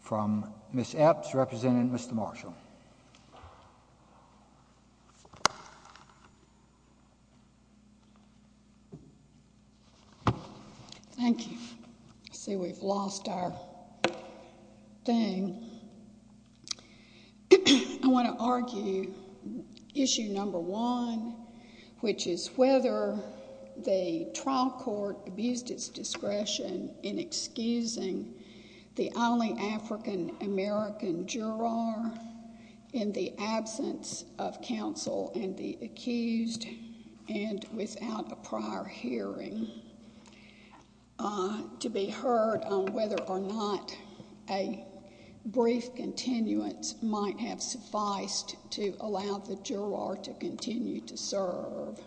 from Ms. Epps representing Mr. Marshall. Thank you. See we've lost our thing. I want to argue issue number one which is whether the trial court abused its discretion in excusing the only African American juror in the absence of counsel and the accused and without a prior hearing. To be heard on whether or not a brief continuance might have sufficed to allow the juror to continue to proceed.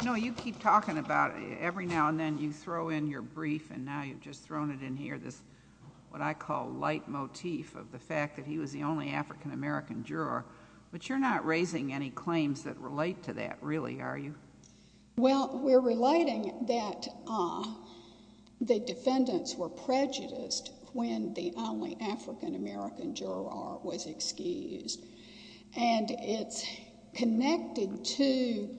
You know you keep talking about it every now and then you throw in your brief and now you've just thrown it in here this what I call light motif of the fact that he was the only African American juror. But you're not raising any claims that relate to that really are you? Well we're relating that the defendants were prejudiced when the only African American juror was excused. And it's connected to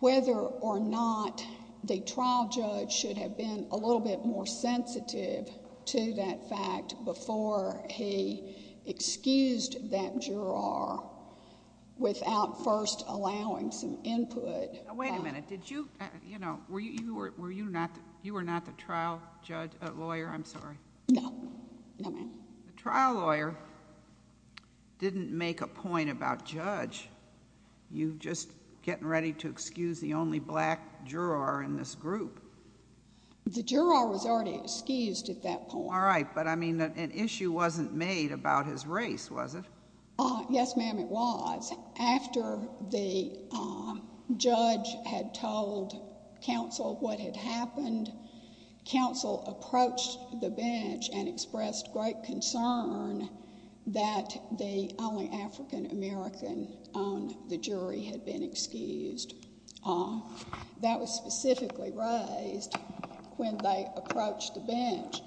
whether or not the trial judge should have been a little bit more sensitive to that fact before he excused that juror without first allowing some input. Wait a minute did you you know were you were you not you were not the trial judge lawyer I'm sorry. No. No ma'am. The trial lawyer didn't make a point about judge you just getting ready to excuse the only black juror in this group. The juror was already excused at that point. All right but I mean an issue wasn't made about his happened. Counsel approached the bench and expressed great concern that the only African American on the jury had been excused. That was specifically raised when they approached the bench.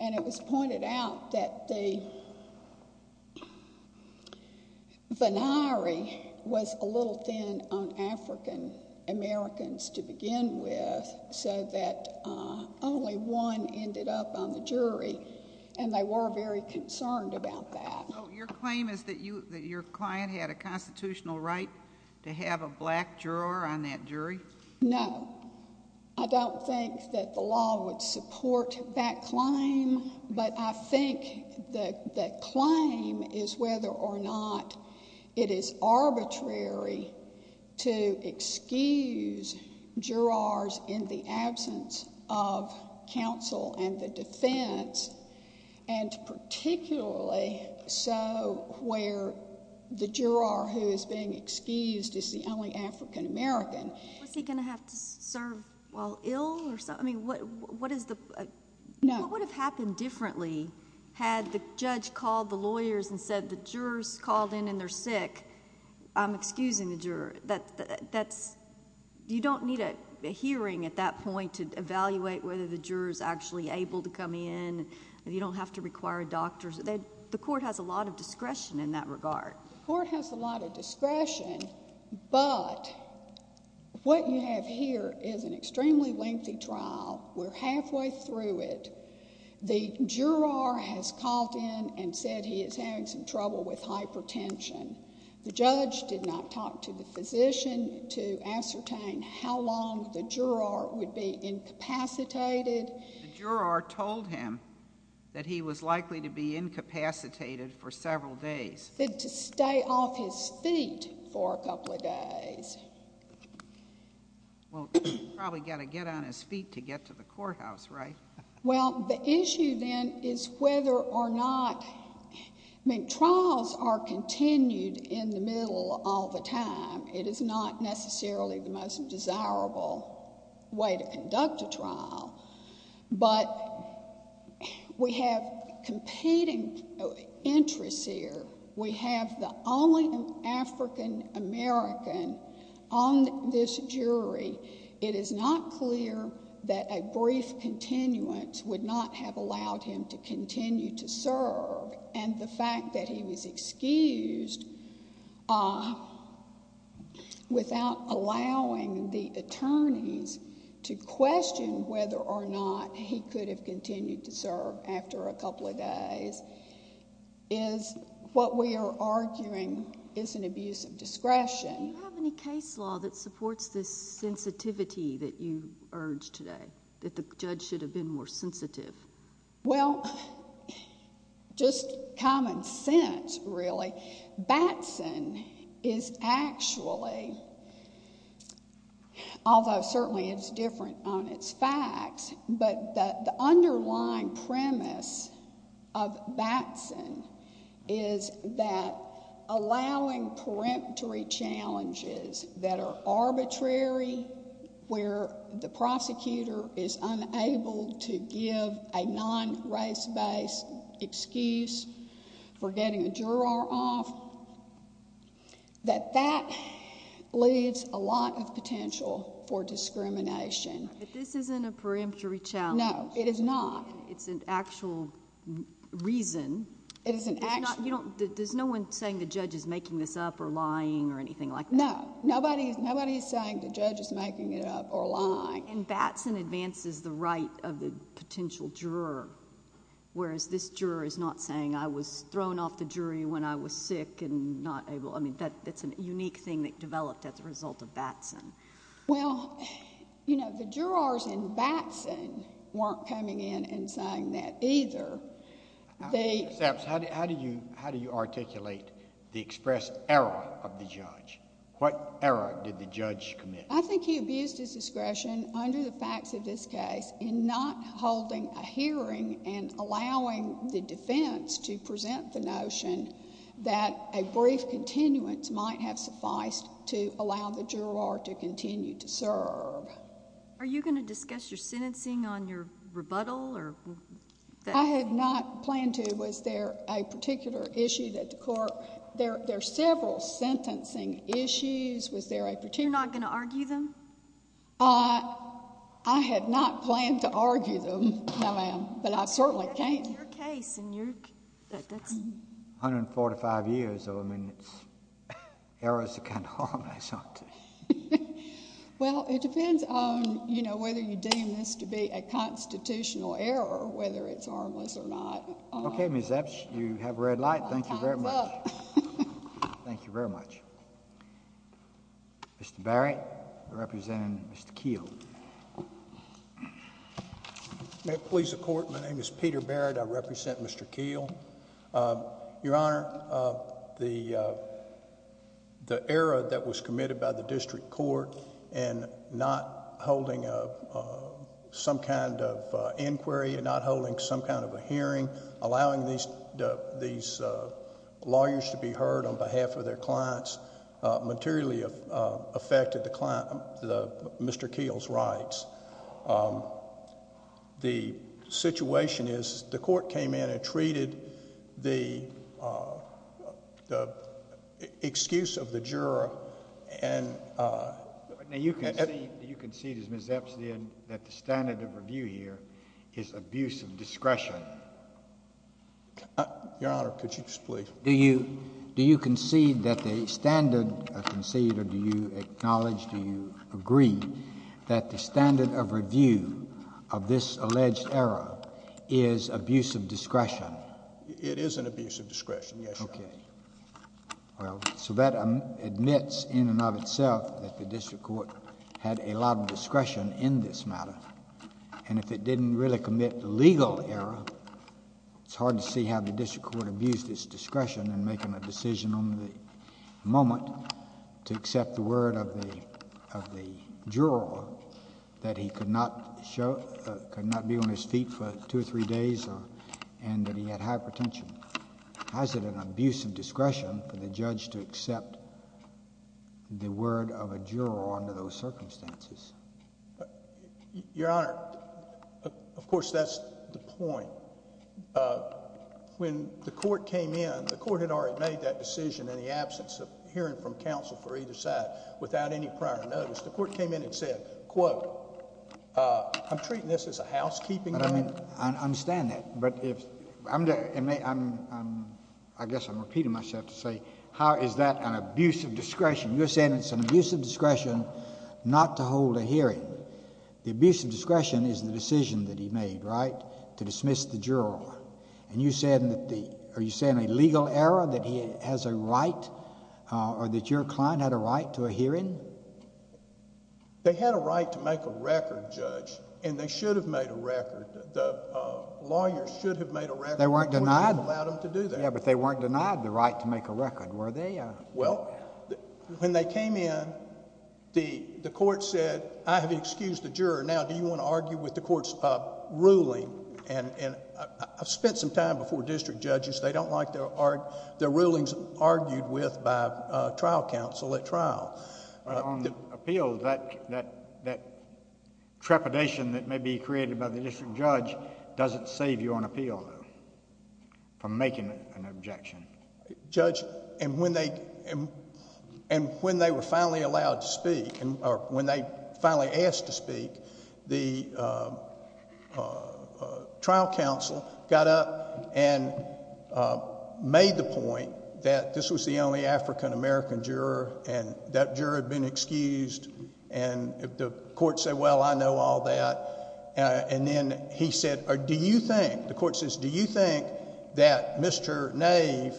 And it was pointed out that the binary was a little thin on African Americans to begin with. So that only one ended up on the jury. And they were very concerned about that. So your claim is that you that your client had a constitutional right to have a black juror on that jury? No. I don't think that the law would support that claim. But I think that that claim is whether or not it is arbitrary to excuse jurors in the absence of counsel and the defense. And particularly so where the juror who is being excused is the only African American. Was he going to have to serve while ill or something? What would have happened differently had the judge called the lawyers and said the jurors called in and they're sick. I'm excusing the juror. You don't need a hearing at that point to evaluate whether the jurors actually able to come in. You don't have to require a doctor. The court has a lot of discretion in that regard. The court has a lot of discretion. But what you have here is an extremely lengthy trial. We're halfway through it. The juror has called in and said he is having some trouble with hypertension. The judge did not talk to the physician to ascertain how long the juror would be incapacitated. The juror told him that he was likely to be incapacitated for several days. To stay off his feet for a couple of days. Well, he's probably got to get on his feet to get to the courthouse, right? Well, the issue then is whether or not, I mean trials are continued in the middle all the time. It is not necessarily the most desirable way to conduct a trial. But we have competing interests here. We have the only African American on this jury. It is not clear that a brief continuance would not have allowed him to continue to serve. And the fact that he was uh without allowing the attorneys to question whether or not he could have continued to serve after a couple of days is what we are arguing is an abuse of discretion. Do you have any case law that supports this sensitivity that you urged today? That the judge should have been more discreet? Well, Batson is actually, although certainly it's different on its facts, but the underlying premise of Batson is that allowing peremptory challenges that are arbitrary where the prosecutor is unable to give a non-race based excuse for getting a juror off, that that leaves a lot of potential for discrimination. But this isn't a peremptory challenge. No, it is not. It's an actual reason. It is an actual reason. There's no one saying the judge is making this up or lying or anything like that. No, nobody's saying the judge is making it up or lying. And Batson advances the right of the potential juror, whereas this juror is not saying I was thrown off the jury when I was sick and not able. I mean, that's a unique thing that developed as a result of Batson. Well, you know, the jurors in Batson weren't coming in and saying that either. Ms. Epps, how do you articulate the expressed error of the judge? What error did the judge commit? I think he abused his discretion under the facts of this case in not holding a hearing and allowing the defense to present the notion that a brief continuance might have sufficed to allow the juror to continue to serve. Are you going to discuss your sentencing on your case? I had not planned to. Was there a particular issue that the court, there are several sentencing issues. Was there a particular... You're not going to argue them? I had not planned to argue them, no ma'am, but I certainly can't. In your case, in your... 145 years, I mean, errors are kind of harmless, aren't they? Well, it depends on, you know, whether you deem this to be a constitutional error, whether it's harmless or not. Okay, Ms. Epps, you have a red light. Thank you very much. Thank you very much. Mr. Barrett, representing Mr. Keel. May it please the court, my name is Peter Barrett. I represent Mr. Keel. Your Honor, the error that was committed by the district court in not holding some kind of inquiry and not holding some kind of a hearing, allowing these lawyers to be heard on behalf of their clients, materially affected the client, Mr. Keel's rights. The situation is the court came in and treated the excuse of the juror and... Now, you concede, as Ms. Epps did, that the standard of review here is abuse of discretion. Your Honor, could you just please... Do you concede that the standard, concede or do you acknowledge, do you agree that the standard of review of this alleged error is abuse of discretion? It is an abuse of discretion, yes, Your Honor. Okay. Well, so that admits in and of itself that the district court had a lot of discretion in this case. It didn't really commit legal error. It's hard to see how the district court abused its discretion in making a decision on the moment to accept the word of the juror that he could not be on his feet for two or three days and that he had hypertension. How is it an abuse of discretion for the judge to accept the word of a juror under those circumstances? But Your Honor, of course, that's the point. When the court came in, the court had already made that decision in the absence of hearing from counsel for either side without any prior notice. The court came in and said, quote, I'm treating this as a housekeeping matter. I understand that, but I guess I'm repeating myself to say, how is that an abuse of discretion? You're saying it's an abuse of discretion not to hold a hearing. The abuse of discretion is the decision that he made, right, to dismiss the juror. And you're saying a legal error that he has a right or that your client had a right to a hearing? They had a right to make a record, Judge, and they should have made a record. The lawyers should have made a record when you allowed them to do that. They weren't denied the right to make a record, were they? Well, when they came in, the court said, I have excused the juror. Now, do you want to argue with the court's ruling? And I've spent some time before district judges. They don't like their rulings argued with by trial counsel at trial. But on the appeal, that trepidation that may be created by the district judge doesn't save you on appeal, though, from making an objection. Judge, and when they were finally allowed to speak, or when they finally asked to speak, the trial counsel got up and made the point that this was the only African-American juror, and that juror had been excused. And the court said, well, I know all that. And then he said, do you think, the court says, do you think that Mr. Nave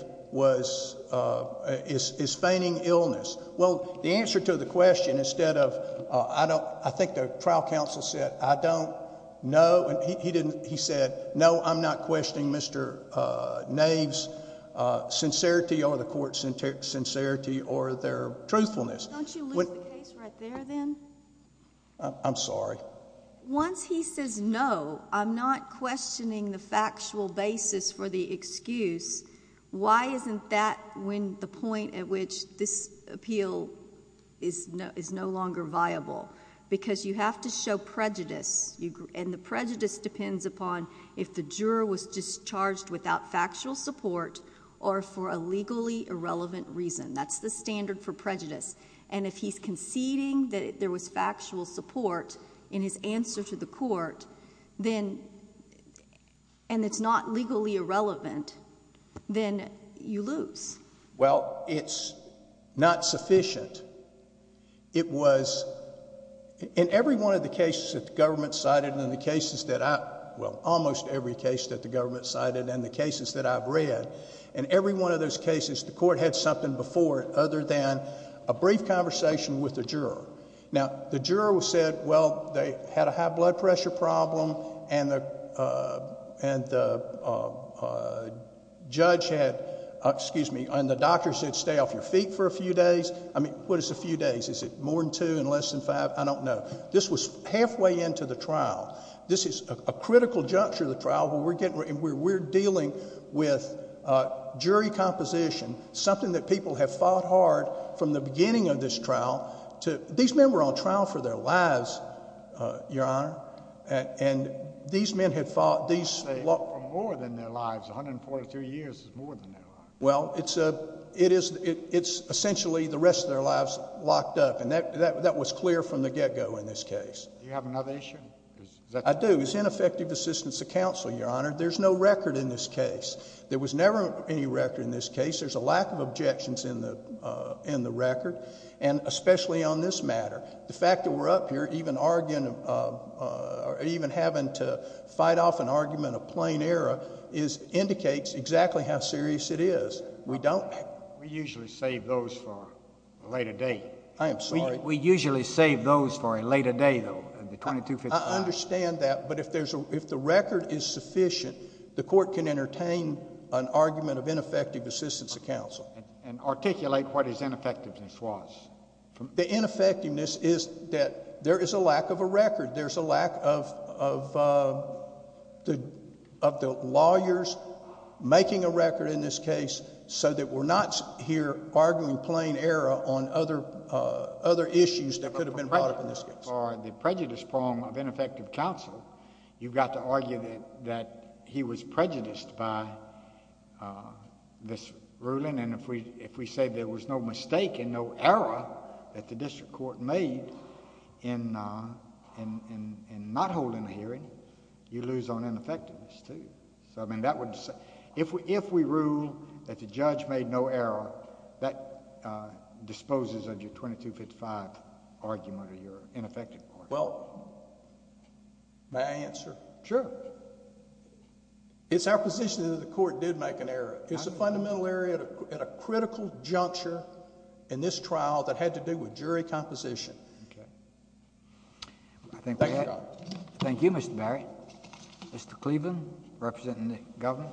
is feigning illness? Well, the answer to the question, instead of, I think the trial counsel said, I don't know, and he said, no, I'm not questioning Mr. Nave's sincerity, or the court's sincerity, or their truthfulness. Don't you lose the case right there, then? I'm sorry. Once he says, no, I'm not questioning the factual basis for the excuse, why isn't that when the point at which this appeal is no longer viable? Because you have to show prejudice, and the prejudice depends upon if the juror was discharged without factual support or for a legally irrelevant reason. That's the standard for prejudice. And if he's conceding that there was factual support in his answer to the court, then, and it's not legally irrelevant, then you lose. Well, it's not sufficient. It was, in every one of the cases that the government cited, and in the cases that I, well, almost every case that the government cited, and the cases that I've read, in every one of those cases, the court had something before it, other than a brief conversation with the juror. Now, the juror said, well, they had a high blood pressure problem, and the judge had, excuse me, and the doctor said, stay off your feet for a few days. I mean, what is a few days? Is it more than two and less than five? I don't know. This was halfway into the trial. This is a critical juncture of the trial, and we're dealing with jury composition, something that people have fought hard from the beginning of this trial to, these men were on trial for their lives, Your Honor, and these men had fought, these- They fought for more than their lives. 142 years is more than that. Well, it's essentially the rest of their lives locked up, and that was clear from the get-go in this case. Do you have another issue? I do. It's ineffective assistance of counsel, Your Honor. There's no record in this case. There was never any record in this case. There's a lack of objections in the record, and especially on this matter. The fact that we're up here even arguing, even having to fight off an argument of plain error indicates exactly how serious it is. We don't- We usually save those for a later date. I am sorry? We usually save those for a later date, though, the 2255. I understand that, but if the record is sufficient, the court can entertain an argument of ineffective assistance of counsel. And articulate what his ineffectiveness was. The ineffectiveness is that there is a lack of a record. There's a lack of the lawyers making a record in this case so that we're not here arguing plain error on other issues that could have been brought up in this case. For the prejudice prong of ineffective counsel, you've got to argue that he was prejudiced by this ruling. And if we say there was no mistake and no error that the district court made in not holding a hearing, you lose on ineffectiveness, too. I mean, if we rule that the judge made no error, that disposes of your 2255 argument or your ineffective argument. Well, may I answer? Sure. It's our position that the court did make an error. It's a fundamental error at a critical juncture in this trial that had to do with jury composition. Okay. Thank you, Mr. Barry. Mr. Cleveland, representing the government.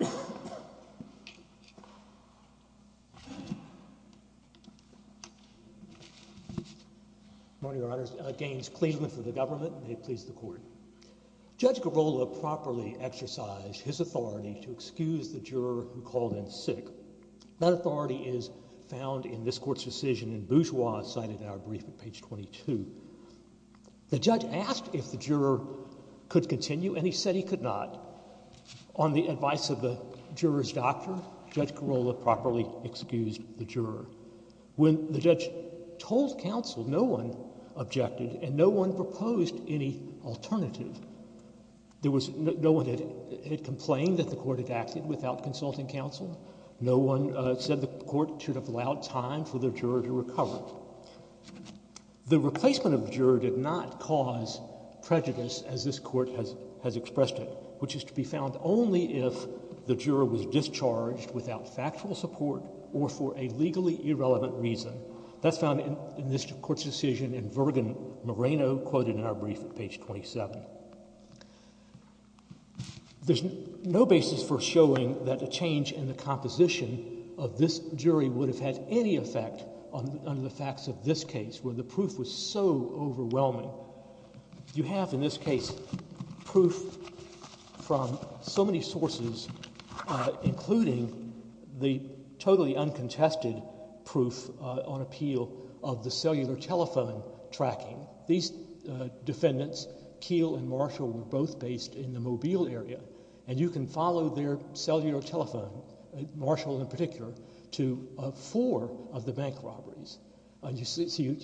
Good morning, Your Honors. Gaines Cleveland for the government, and may it please the court. Judge Girola properly exercised his authority to excuse the juror who called in sick. That authority is found in this court's decision in Bourgeois, cited in our brief at page 22. The judge asked if the juror could continue, and he said he could not. On the advice of the juror's doctor, Judge Girola properly excused the juror. When the judge told counsel, no one objected, and no one proposed any alternative. There was no one that had complained that the court had acted without consulting counsel. No one said the court should have allowed time for the juror to recover. The replacement of the juror did not cause prejudice as this court has expressed it, which is to be found only if the juror was discharged without factual support or for a legally irrelevant reason. That's found in this court's decision in Virgen Moreno, quoted in our brief at page 27. There's no basis for showing that a change in the composition of this jury would have any effect under the facts of this case, where the proof was so overwhelming. You have in this case proof from so many sources, including the totally uncontested proof on appeal of the cellular telephone tracking. These defendants, Keel and Marshall, were both based in the Mobile area, and you can follow their cellular telephone, Marshall in particular, to four of the bank robberies. You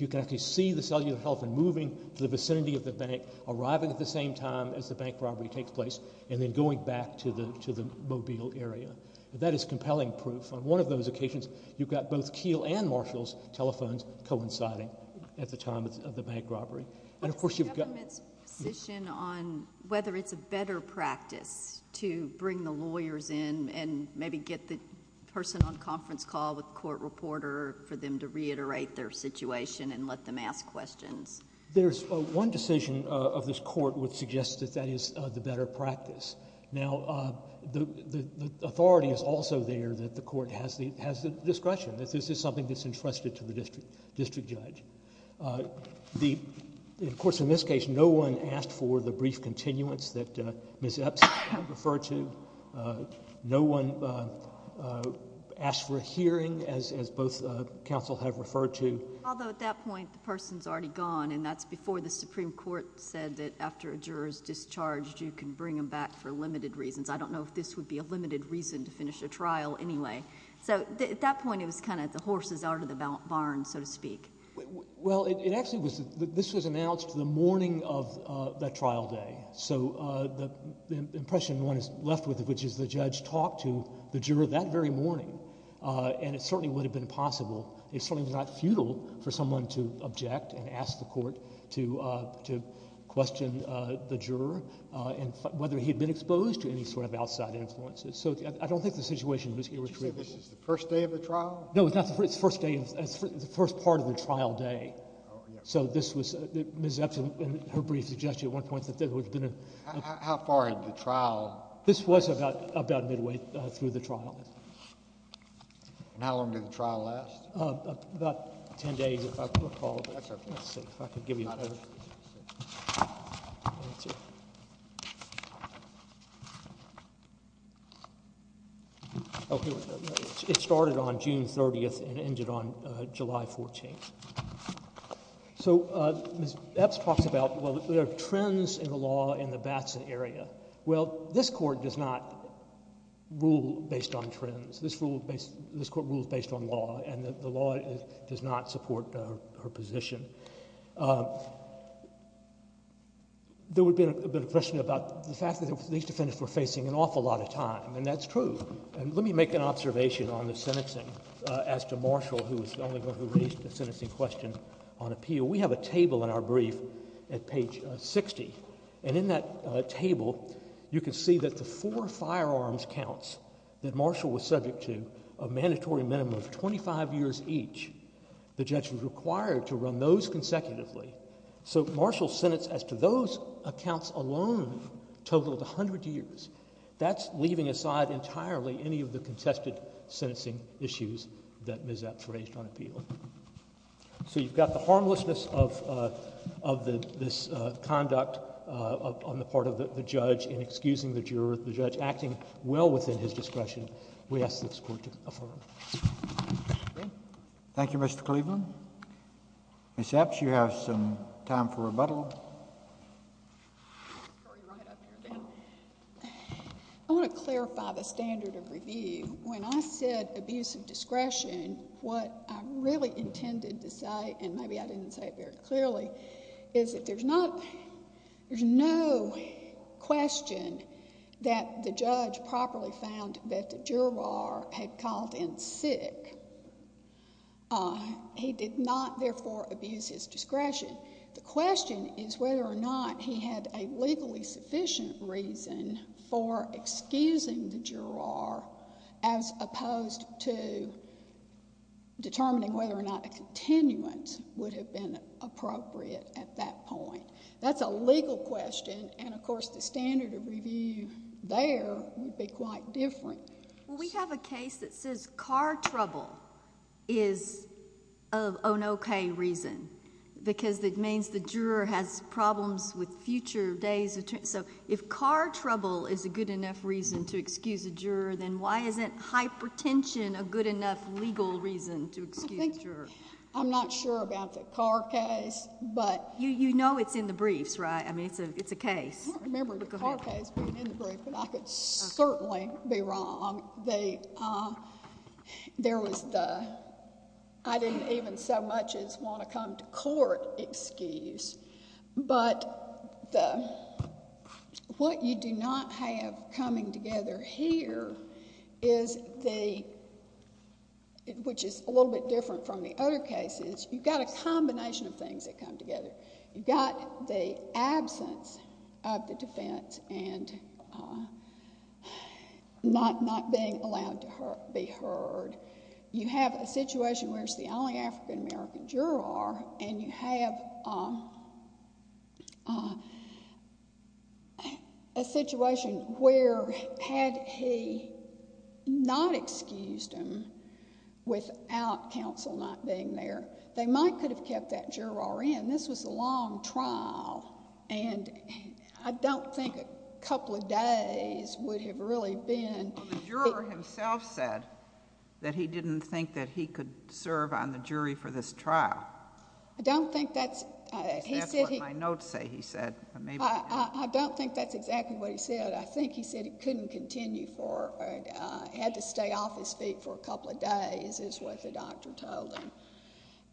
can actually see the cellular telephone moving to the vicinity of the bank, arriving at the same time as the bank robbery takes place, and then going back to the Mobile area. That is compelling proof. On one of those occasions, you've got both Keel and Marshall's telephones coinciding at the time of the bank robbery. But it's the government's position on whether it's a better practice to bring the lawyers in and maybe get the person on conference call with the court reporter for them to reiterate their situation and let them ask questions. There's one decision of this court would suggest that that is the better practice. Now, the authority is also there that the court has the discretion, that this is something that's entrusted to the district judge. Of course, in this case, no one asked for the brief continuance that Ms. Epps referred to. No one asked for a hearing, as both counsel have referred to. Although at that point, the person's already gone, and that's before the Supreme Court said that after a juror's discharged, you can bring them back for limited reasons. I don't know if this would be a limited reason to finish a trial anyway. So at that point, it was kind of the horses out of the barn, so to speak. Well, this was announced the morning of that trial day. So the impression one is left with, which is the judge talked to the juror that very morning, and it certainly would have been possible. It certainly was not futile for someone to object and ask the court to question the juror and whether he had been exposed to any sort of outside influences. So I don't think the situation in this case was trivial. Did you say this is the first day of the trial? No, it's not the first day. It's the first part of the trial day. So this was Ms. Epson and her brief suggestion at one point that there would have been a— How far into the trial? This was about midway through the trial. And how long did the trial last? About 10 days, if I recall. It started on June 30th and ended on July 14th. So Ms. Epson talks about, well, there are trends in the law in the Batson area. Well, this Court does not rule based on trends. This Court rules based on law, and the law does not support her position. There would have been a question about the fact that these defendants were facing an awful lot of time, and that's true. And let me make an observation on the sentencing. As to Marshall, who was the only one who raised the sentencing question on appeal, we have a table in our brief at page 60. And in that table, you can see that the four firearms counts that Marshall was subject to, a mandatory minimum of 25 years each, the judge was required to run those consecutively. So Marshall's sentence as to those accounts alone totaled 100 years. That's leaving aside entirely any of the contested sentencing issues that Ms. Epson raised on appeal. So you've got the harmlessness of this conduct on the part of the judge in excusing the juror, the judge acting well within his discretion. We ask this Court to affirm. Thank you, Mr. Cleveland. Ms. Epson, you have some time for rebuttal. I want to clarify the standard of review. When I said abuse of discretion, what I really intended to say, and maybe I didn't say it very clearly, is that there's not—there's no question that the judge properly found that the juror had called in sick. He did not, therefore, abuse his discretion. The question is whether or not he had a legally sufficient reason for excusing the juror as opposed to determining whether or not a continuance would have been appropriate at that point. That's a legal question, and, of course, the standard of review there would be quite different. We have a case that says car trouble is an okay reason because it means the juror has problems with future days. So if car trouble is a good enough reason to excuse a juror, then why isn't hypertension a good enough legal reason to excuse a juror? I'm not sure about the car case, but— You know it's in the briefs, right? I mean, it's a case. I don't remember the car case being in the brief, but I could certainly be wrong. There was the I didn't even so much as want to come to court excuse, but what you do not have coming together here is the—which is a little bit different from the other cases. You've got a combination of things that come together. You've got the absence of the defense and not being allowed to be heard. You have a situation where it's the only African-American juror, and you have a situation where had he not excused him without counsel not being there, they might could have kept that juror in. This was a long trial, and I don't think a couple of days would have really been— Well, the juror himself said that he didn't think that he could serve on the jury for this trial. I don't think that's— That's what my notes say, he said. I don't think that's exactly what he said. I think he said he couldn't continue for—had to stay off his feet for a couple of days is what the doctor told him.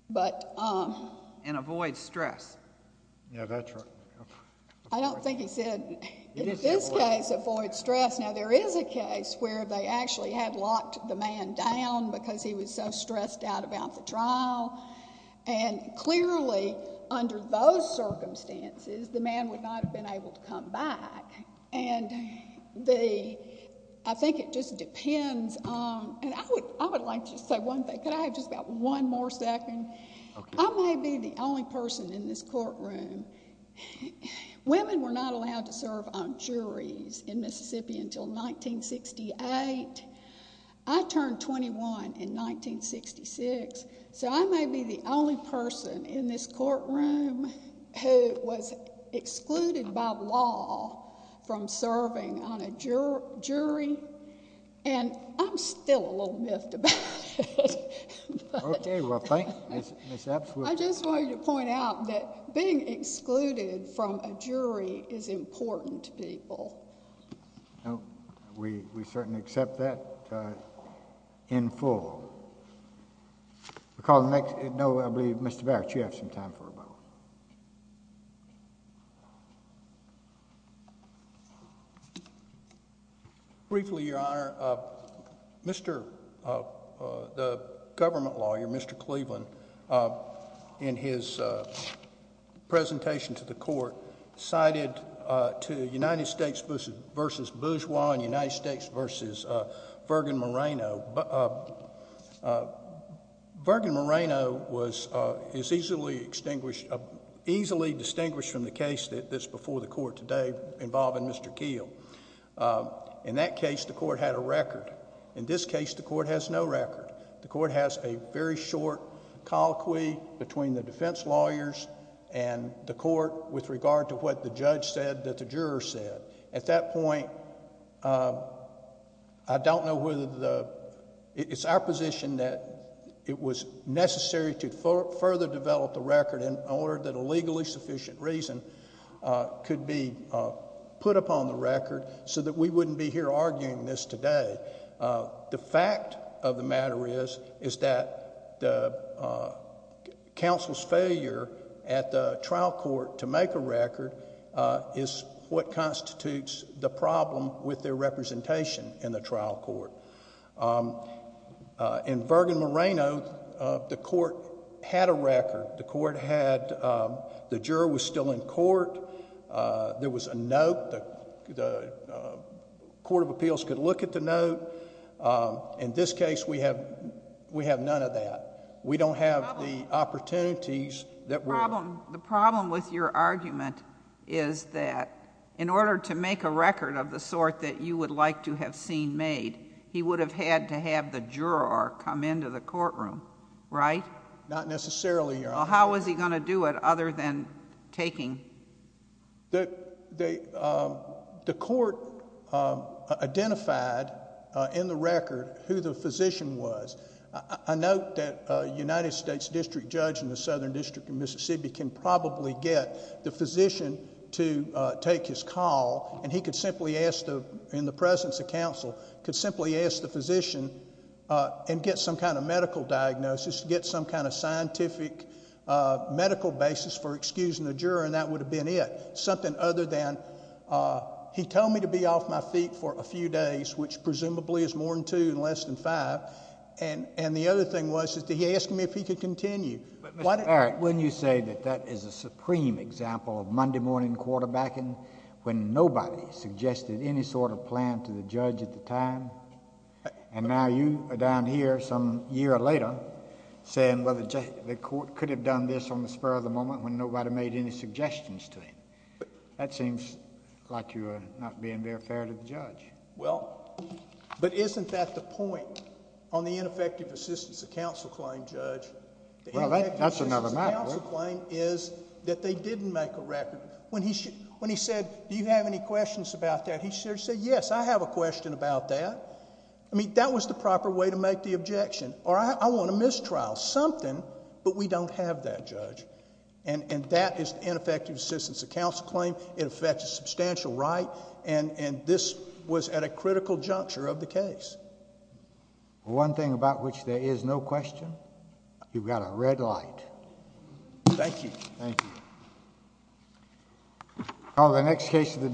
But— And avoid stress. Yeah, that's right. I don't think he said, in this case, avoid stress. Now, there is a case where they actually had locked the man down because he was so stressed out about the trial, and clearly under those circumstances, the man would not have been able to come back. And the—I think it just depends—and I would like to say one thing. Could I have just about one more second? I may be the only person in this courtroom—women were not allowed to serve on juries in Mississippi until 1968. I turned 21 in 1966, so I may be the only person in this courtroom who was excluded by law from serving on a jury, and I'm still a little miffed about it. Okay, well, thank you, Ms. Epps. I just wanted to point out that being excluded from a jury is important to people. No, we certainly accept that in full. We'll call the next—no, I believe Mr. Barrett, you have some time for a vote. Briefly, Your Honor, Mr.—the government lawyer, Mr. Cleveland, in his presentation to the court, cited to United States v. Bourgeois and United States v. Virginia Moreno. Virginia Moreno is easily distinguished from the case that's before the court today involving Mr. Keel. In that case, the court had a record. In this case, the court has no record. The court has a very short colloquy between the defense lawyers and the court with regard to what the judge said that the juror said. At that point, I don't know whether the—it's our position that it was necessary to further develop the record in order that a legally sufficient reason could be put upon the record so that we wouldn't be here arguing this today. The fact of the matter is, is that the counsel's failure at the trial court to make a record is what constitutes the problem with their representation in the trial court. In Virginia Moreno, the court had a record. The court had—the juror was still in court. There was a note. The Court of Appeals could look at the note. In this case, we have none of that. We don't have the opportunities that— The problem with your argument is that in order to make a record of the sort that you would like to have seen made, he would have had to have the juror come into the courtroom, Not necessarily, Your Honor. How was he going to do it other than taking— The court identified in the record who the physician was. I note that a United States District Judge in the Southern District of Mississippi can probably get the physician to take his call, and he could simply ask, in the presence of counsel, could simply ask the physician and get some kind of medical diagnosis, get some kind of scientific medical basis for excusing the juror, and that would have been it. Something other than, he told me to be off my feet for a few days, which presumably is less than five, and the other thing was that he asked me if he could continue. Mr. Barrett, wouldn't you say that that is a supreme example of Monday morning quarterbacking when nobody suggested any sort of plan to the judge at the time, and now you are down here some year later saying, well, the court could have done this on the spur of the moment when nobody made any suggestions to him. That seems like you are not being very fair to the judge. Well, but isn't that the point on the ineffective assistance of counsel claim, Judge? That's another matter. The ineffective assistance of counsel claim is that they didn't make a record. When he said, do you have any questions about that, he should have said, yes, I have a question about that. I mean, that was the proper way to make the objection, or I want a mistrial, something, but we don't have that, Judge, and that is the ineffective assistance of counsel claim. It affects a substantial right, and this was at a critical juncture of the case. One thing about which there is no question, you've got a red light. Thank you. Thank you. Call the next case of the day.